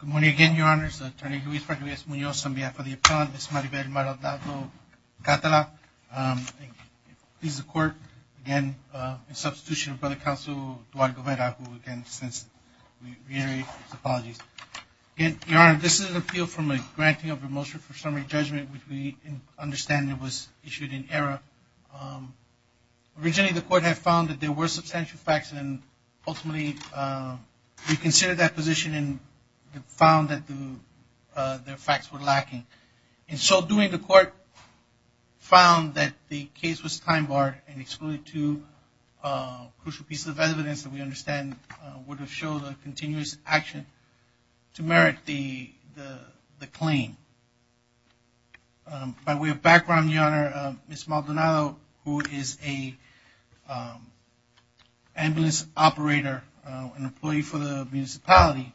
Good morning again, Your Honor. It's Attorney Luis F. Munoz on behalf of the Appellant. This is Maribel Maldonado-Catala. Please, the Court, again, in substitution for the Counsel, Duarte Guevara, who, again, since we reiterate his apologies. Again, Your Honor, this is an appeal from a granting of a motion for summary judgment, which we understand it was issued in error. Originally, the Court had found that there were substantial facts, and ultimately, we considered that position and found that the facts were lacking. In so doing, the Court found that the case was time-barred and excluded two crucial pieces of evidence that we understand would have showed a continuous action to merit the claim. By way of background, Your Honor, Ms. Maldonado, who is an ambulance operator, an employee for the municipality,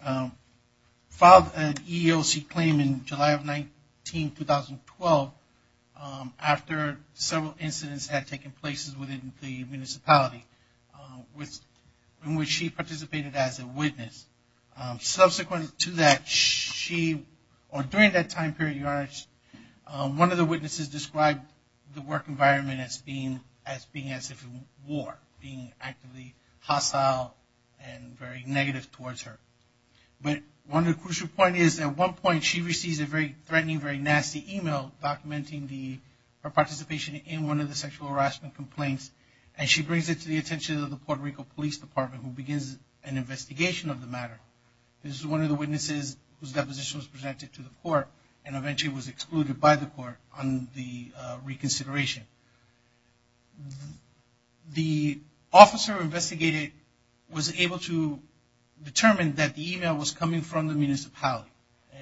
filed an EEOC claim in July of 19, 2012, after several incidents had taken place within the municipality in which she participated as a witness. Subsequent to that, she, or during that time period, Your Honor, one of the witnesses described the work environment as being as if it were war, being actively hostile and very negative towards her. But one of the crucial points is, at one point, she receives a very threatening, very nasty email documenting her participation in one of the sexual harassment complaints, and she brings it to the attention of the Puerto Rico Police Department, who begins an investigation of the matter. This is one of the witnesses whose deposition was presented to the Court, and eventually was excluded by the Court on the reconsideration. The officer investigated was able to determine that the email was coming from the municipality,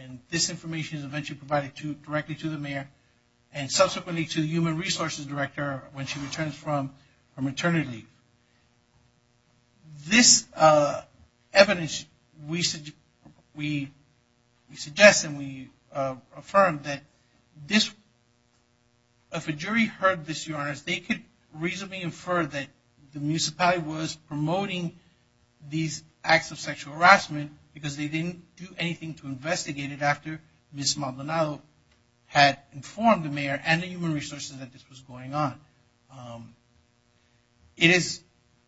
and this information is eventually provided directly to the mayor, and subsequently to the Human Resources Director when she returns from maternity. This evidence, we suggest and we affirm that if a jury heard this, Your Honors, they could reasonably infer that the municipality was promoting these acts of sexual harassment because they didn't do It is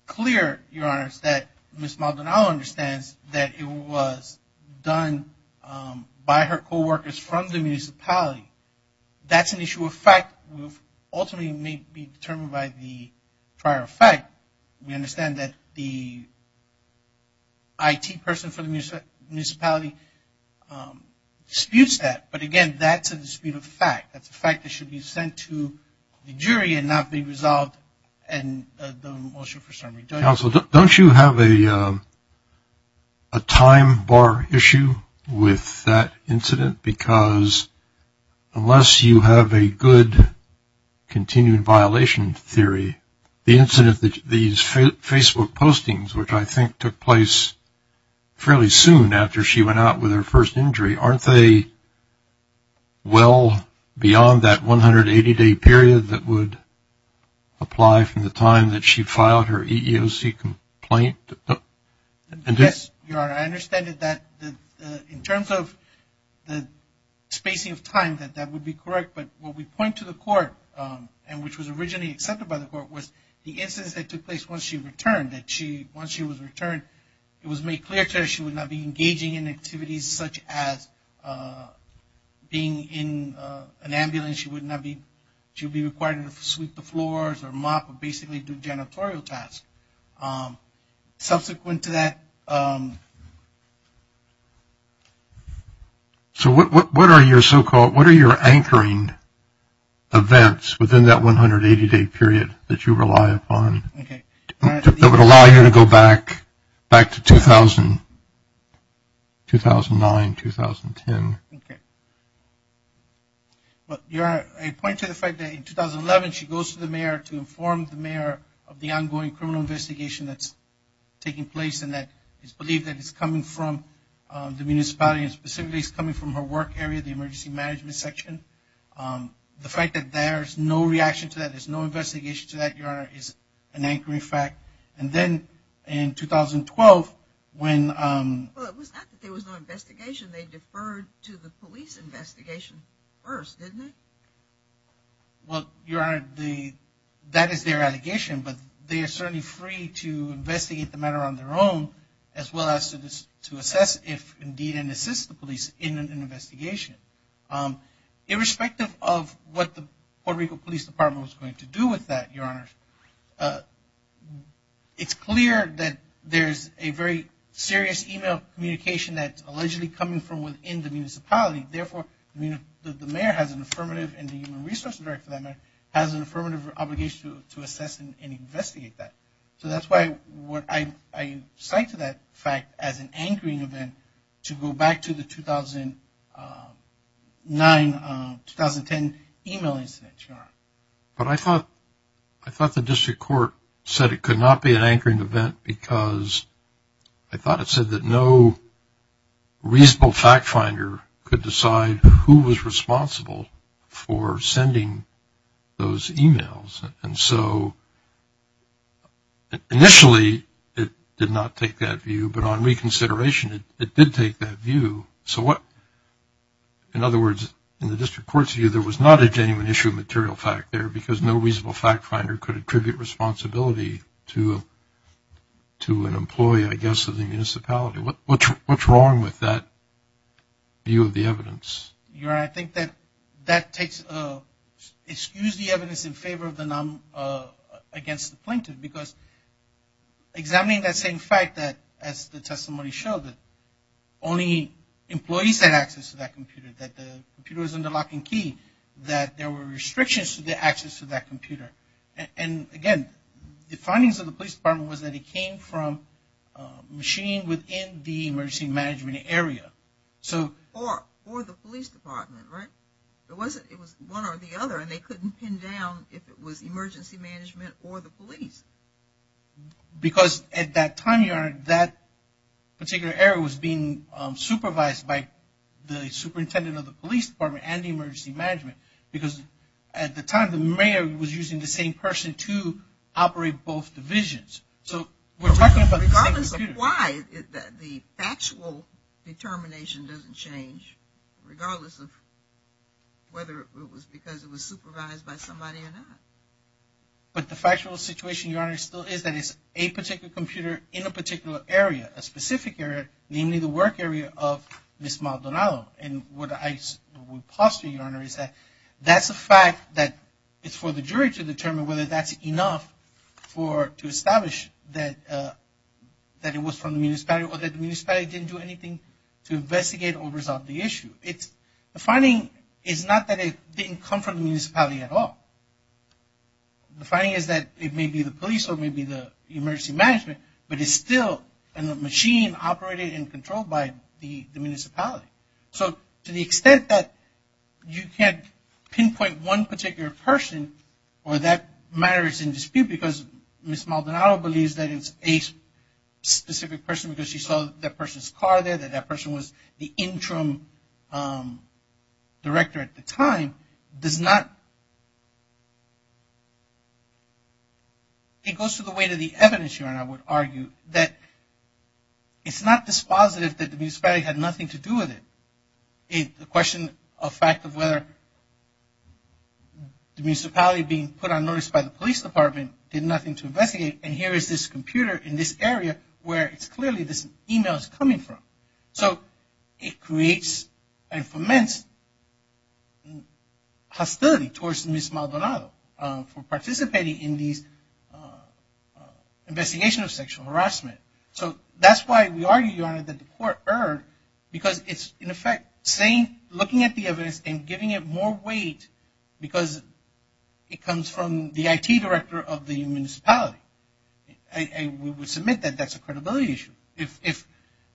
clear, Your Honors, that Ms. Maldonado understands that it was done by her co-workers from the municipality. That's an issue of fact. Ultimately, it may be determined by the prior fact. We understand that the IT person from the municipality disputes that, but again, that's a dispute of fact. That's a fact that should be sent to the jury and not be resolved in the motion for summary. Counsel, don't you have a time bar issue with that incident? Because unless you have a good continued violation theory, the incident that these Facebook postings, which I think took place fairly soon after she went out with her first injury, aren't they well beyond that 180-day period that would apply from the time that she filed her EEOC complaint? Yes, Your Honor. I understand that in terms of the spacing of time, that would be correct. But what we point to the court and which was originally accepted by the court was the instance that took place once she returned, that once she was returned, it was made clear to her she would not be engaging in activities such as being in an ambulance. She would be required to sweep the floors or mop or basically do janitorial tasks. Subsequent to that. So what are your so-called, what are your anchoring events within that 180-day period that you rely upon? Okay. That would allow you to go back, back to 2000, 2009, 2010. Okay. Your Honor, I point to the fact that in 2011 she goes to the mayor to inform the mayor of the ongoing criminal investigation that's taking place and that is believed that it's coming from the municipality and specifically it's coming from her work area, the emergency management section. The fact that there's no reaction to that, there's no investigation to that, Your Honor, is an anchoring fact. And then in 2012 when... Well, it was not that there was no investigation. They deferred to the police investigation first, didn't they? Well, Your Honor, that is their allegation, but they are certainly free to investigate the matter on their own as well as to assess if indeed and assist the police in an investigation. Irrespective of what the Puerto Rico Police Department was going to do with that, Your Honor, it's clear that there's a very serious email communication that's allegedly coming from within the municipality. Therefore, the mayor has an affirmative and the human resources director has an affirmative obligation to assess and investigate that. So that's why I cite that fact as an anchoring event to go back to the 2009-2010 email incident, Your Honor. But I thought the district court said it could not be an anchoring event because I thought it said that no reasonable fact finder could decide who was responsible for sending those emails. And so initially it did not take that view, but on reconsideration it did take that view. So in other words, in the district court's view, there was not a genuine issue of material fact there because no reasonable fact finder could attribute responsibility to an employee, I guess, of the municipality. What's wrong with that view of the evidence? Your Honor, I think that that takes – excuse the evidence in favor of the non – against the plaintiff because examining that same fact that, as the testimony showed, that only employees had access to that computer, that the computer was under lock and key, that there were restrictions to the access to that computer. And again, the findings of the police department was that it came from a machine within the emergency management area. Or the police department, right? It was one or the other and they couldn't pin down if it was emergency management or the police. Because at that time, Your Honor, that particular area was being supervised by the superintendent of the police department and the emergency management. Because at the time, the mayor was using the same person to operate both divisions. So we're talking about the same computer. Regardless of why, the factual determination doesn't change regardless of whether it was because it was supervised by somebody or not. But the factual situation, Your Honor, still is that it's a particular computer in a particular area, a specific area, namely the work area of Ms. Maldonado. And what I would postulate, Your Honor, is that that's a fact that it's for the jury to determine whether that's enough to establish that it was from the municipality or that the municipality didn't do anything to investigate or resolve the issue. The finding is not that it didn't come from the municipality at all. The finding is that it may be the police or it may be the emergency management, but it's still a machine operated and controlled by the municipality. So to the extent that you can't pinpoint one particular person or that matter is in dispute because Ms. Maldonado believes that it's a specific person because she saw that person's car there, that that person was the interim director at the time does not, it goes to the weight of the evidence, Your Honor, I would argue that it's not dispositive that the municipality had nothing to do with it. It's a question of fact of whether the municipality being put on notice by the police department did nothing to investigate and here is this computer in this area where it's clearly this email is coming from. So it creates and foments hostility towards Ms. Maldonado for participating in these investigations of sexual harassment. So that's why we argue, Your Honor, that the court erred because it's in effect looking at the evidence and giving it more weight because it comes from the IT director of the municipality. We would submit that that's a credibility issue. If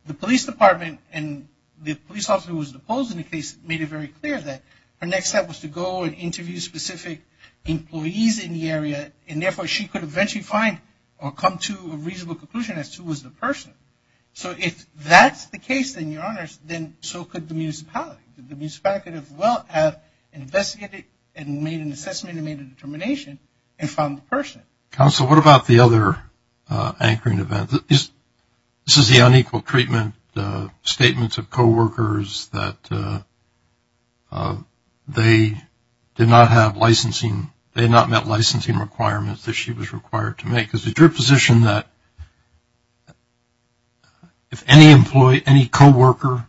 the police department and the police officer who was deposed in the case made it very clear that her next step was to go and interview specific employees in the area and therefore she could eventually find or come to a reasonable conclusion as to who was the person. So if that's the case, then, Your Honors, then so could the municipality. The municipality could as well have investigated and made an assessment and made a determination and found the person. Counsel, what about the other anchoring events? This is the unequal treatment statements of coworkers that they did not have licensing, they had not met licensing requirements that she was required to make. Is it your position that if any coworker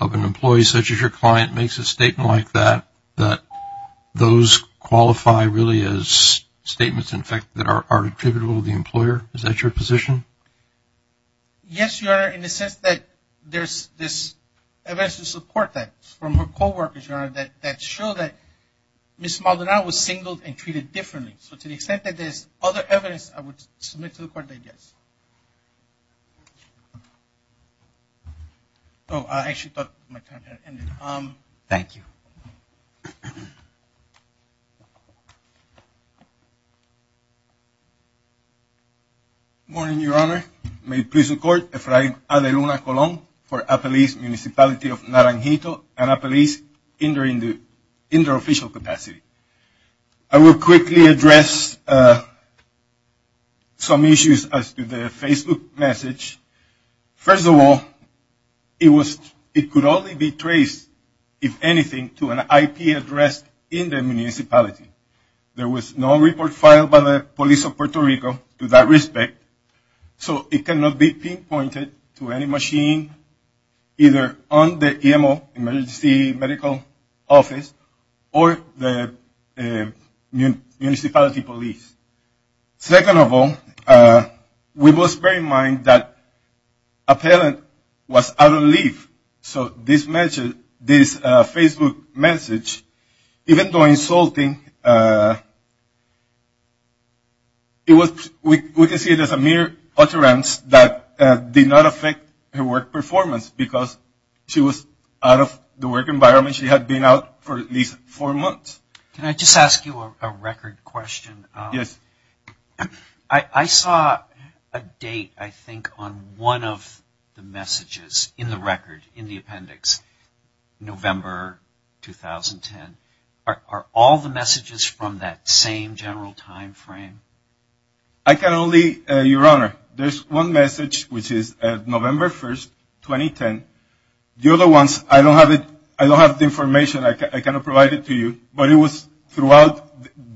of an employee such as your client makes a statement like that, those qualify really as statements in effect that are attributable to the employer? Is that your position? Yes, Your Honor, in the sense that there's evidence to support that from her coworkers, Your Honor, that show that Ms. Maldonado was singled and treated differently. So to the extent that there's other evidence, I would submit to the court that yes. Oh, I actually thought my time had ended. Thank you. Good morning, Your Honor. May it please the court, Efrain Adeluna Colon for Apalese Municipality of Naranjito and Apalese in their official capacity. I will quickly address some issues as to the Facebook message. First of all, it could only be traced, if anything, to an IP address in the municipality. There was no report filed by the police of Puerto Rico to that respect, so it cannot be pinpointed to any machine either on the EMO, emergency medical office, or the municipality police. Second of all, we must bear in mind that a parent was out of leave, so this Facebook message, even though insulting, we can see it as a mere utterance that did not affect her work performance, because she was out of the work environment. She had been out for at least four months. Can I just ask you a record question? Yes. I saw a date, I think, on one of the messages in the record, in the appendix, November 2010. Are all the messages from that same general time frame? I can only, Your Honor, there's one message, which is November 1st, 2010. The other ones, I don't have the information, I cannot provide it to you, but it was throughout,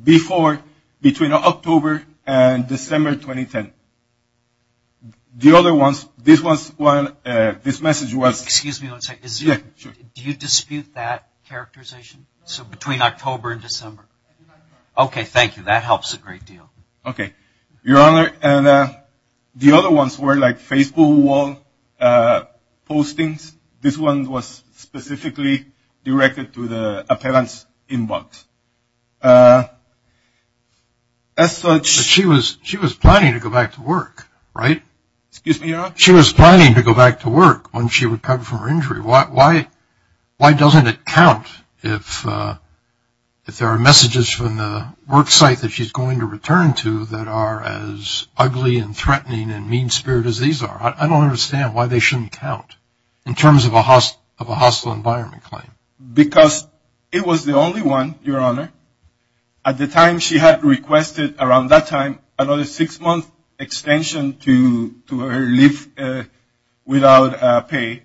before, between October and December 2010. The other ones, this one, this message was... Excuse me one second, do you dispute that characterization? So between October and December. Okay, thank you, that helps a great deal. Okay, Your Honor, the other ones were like Facebook wall postings, this one was specifically directed to the appellant's inbox. She was planning to go back to work, right? Excuse me, Your Honor? She was planning to go back to work when she recovered from her injury. Why doesn't it count if there are messages from the work site that she's going to return to that are as ugly and threatening and mean-spirited as these are? I don't understand why they shouldn't count in terms of a hostile environment claim. Because it was the only one, Your Honor, at the time she had requested, around that time, another six-month extension to her leave without pay,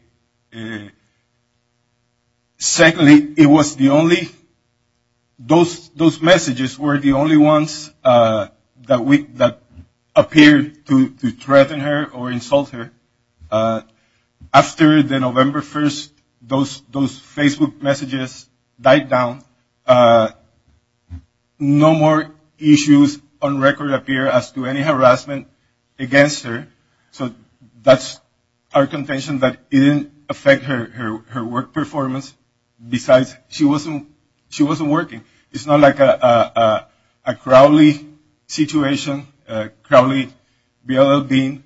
secondly, it was the only, those messages were the only ones that appeared to threaten her or insult her. After the November 1st, those Facebook messages died down. No more issues on record appear as to any harassment against her. So that's our contention that it didn't affect her work performance. Besides, she wasn't working. It's not like a crowdly situation, a crowdly bill of being,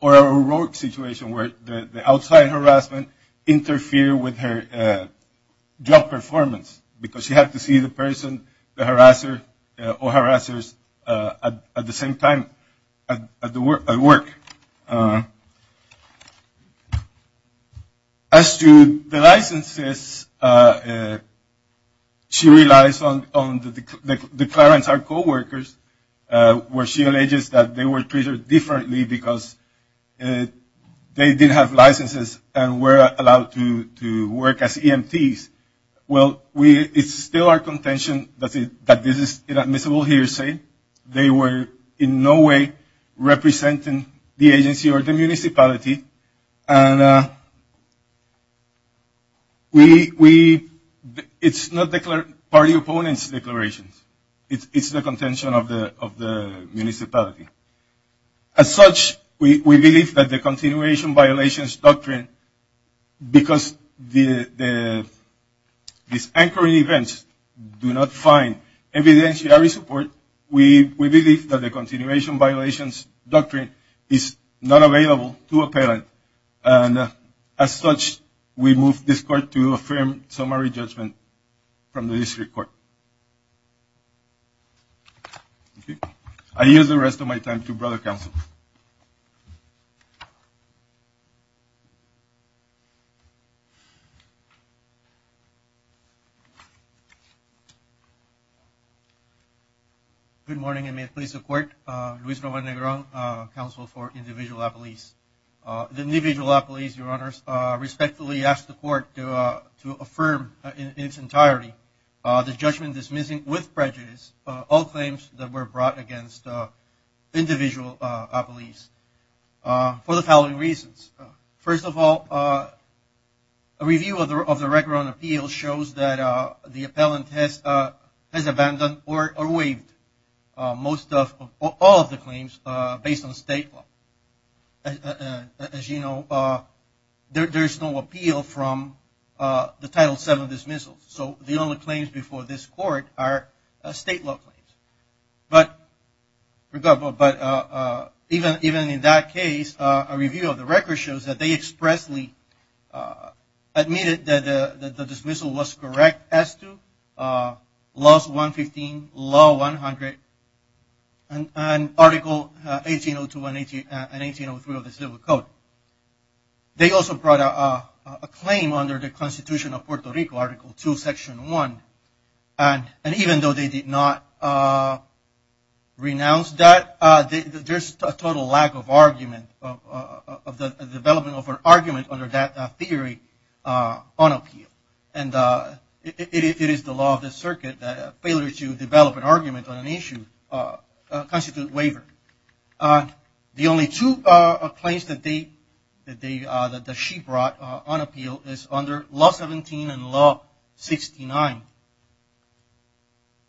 or a rogue situation where the outside harassment interfered with her job performance because she had to see the person, the harasser or harassers at the same time at work. As to the licenses, she relies on the declarants, our co-workers, where she alleges that they were treated differently because they did have licenses and were allowed to work as EMTs. Well, it's still our contention that this is inadmissible here. As I say, they were in no way representing the agency or the municipality. It's not party opponents' declarations. It's the contention of the municipality. As such, we believe that the continuation violations doctrine, because these anchoring events do not find evidentiary support, we believe that the continuation violations doctrine is not available to appellant. And as such, we move this court to affirm summary judgment from the district court. I yield the rest of my time to brother counsel. Good morning, and may it please the court. Luis Roman Negron, counsel for Individual Appellees. The Individual Appellees, Your Honors, respectfully ask the court to affirm in its entirety the judgment dismissing with prejudice all claims that were brought against Individual Appellees for the following reasons. First of all, a review of the record on appeals shows that the appellant has abandoned or waived all of the claims based on state law. As you know, there is no appeal from the Title VII dismissals, so the only claims before this court are state law claims. But even in that case, a review of the record shows that they expressly admitted that the dismissal was correct as to Laws 115, Law 100, and Article 1802 and 1803 of the Civil Code. They also brought a claim under the Constitution of Puerto Rico, Article 2, Section 1, and even though they did not renounce that, there's a total lack of argument, a development of an argument under that theory on appeal. It is the law of the circuit that a failure to develop an argument on an issue constitutes waiver. The only two claims that she brought on appeal is under Law 17 and Law 69.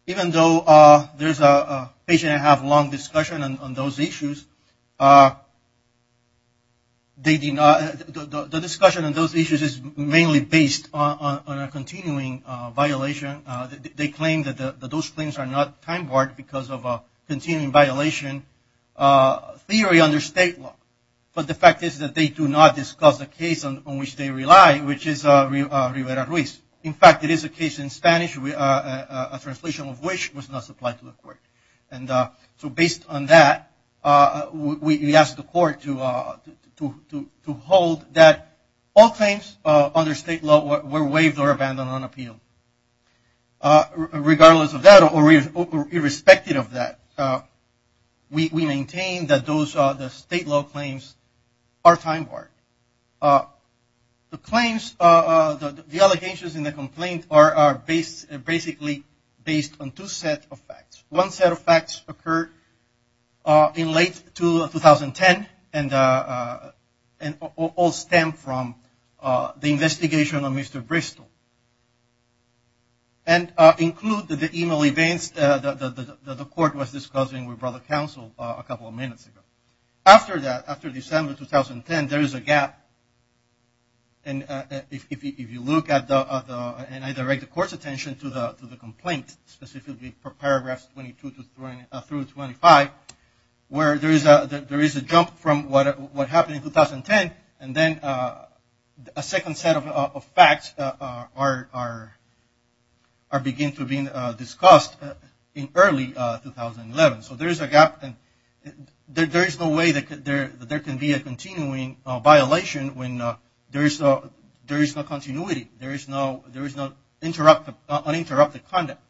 Even though there's a patient and a half long discussion on those issues, the discussion on those issues is mainly based on a continuing violation. They claim that those claims are not time-barred because of a continuing violation theory under state law, but the fact is that they do not discuss a case on which they rely, which is Rivera-Ruiz. In fact, it is a case in Spanish, a translation of which was not supplied to the court. So based on that, we ask the court to hold that all claims under state law were waived or abandoned on appeal. Regardless of that, or irrespective of that, we maintain that those state law claims are time-barred. The claims, the allegations in the complaint are basically based on two sets of facts. One set of facts occurred in late 2010 and all stem from the investigation of Mr. Bristol. And include the email events that the court was discussing with brother counsel a couple of minutes ago. After that, after December 2010, there is a gap. If you look at the, and I direct the court's attention to the complaint, specifically for paragraphs 22 through 25, where there is a jump from what happened in 2010, and then a second set of facts are beginning to be discussed in early 2011. So there is a gap, and there is no way there can be a continuing violation when there is no continuity, there is no uninterrupted conduct.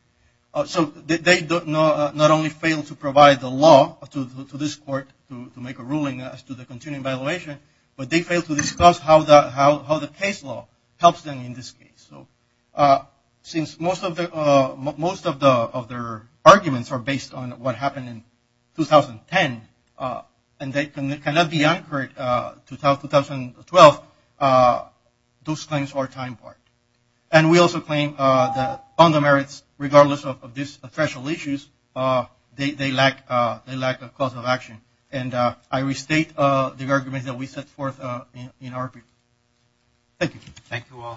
They not only failed to provide the law to this court to make a ruling as to the continuing violation, but they failed to discuss how the case law helps them in this case. Since most of their arguments are based on what happened in 2010, and they don't use our time part. And we also claim that on the merits, regardless of these official issues, they lack a cause of action. And I restate the arguments that we set forth in our brief. Thank you.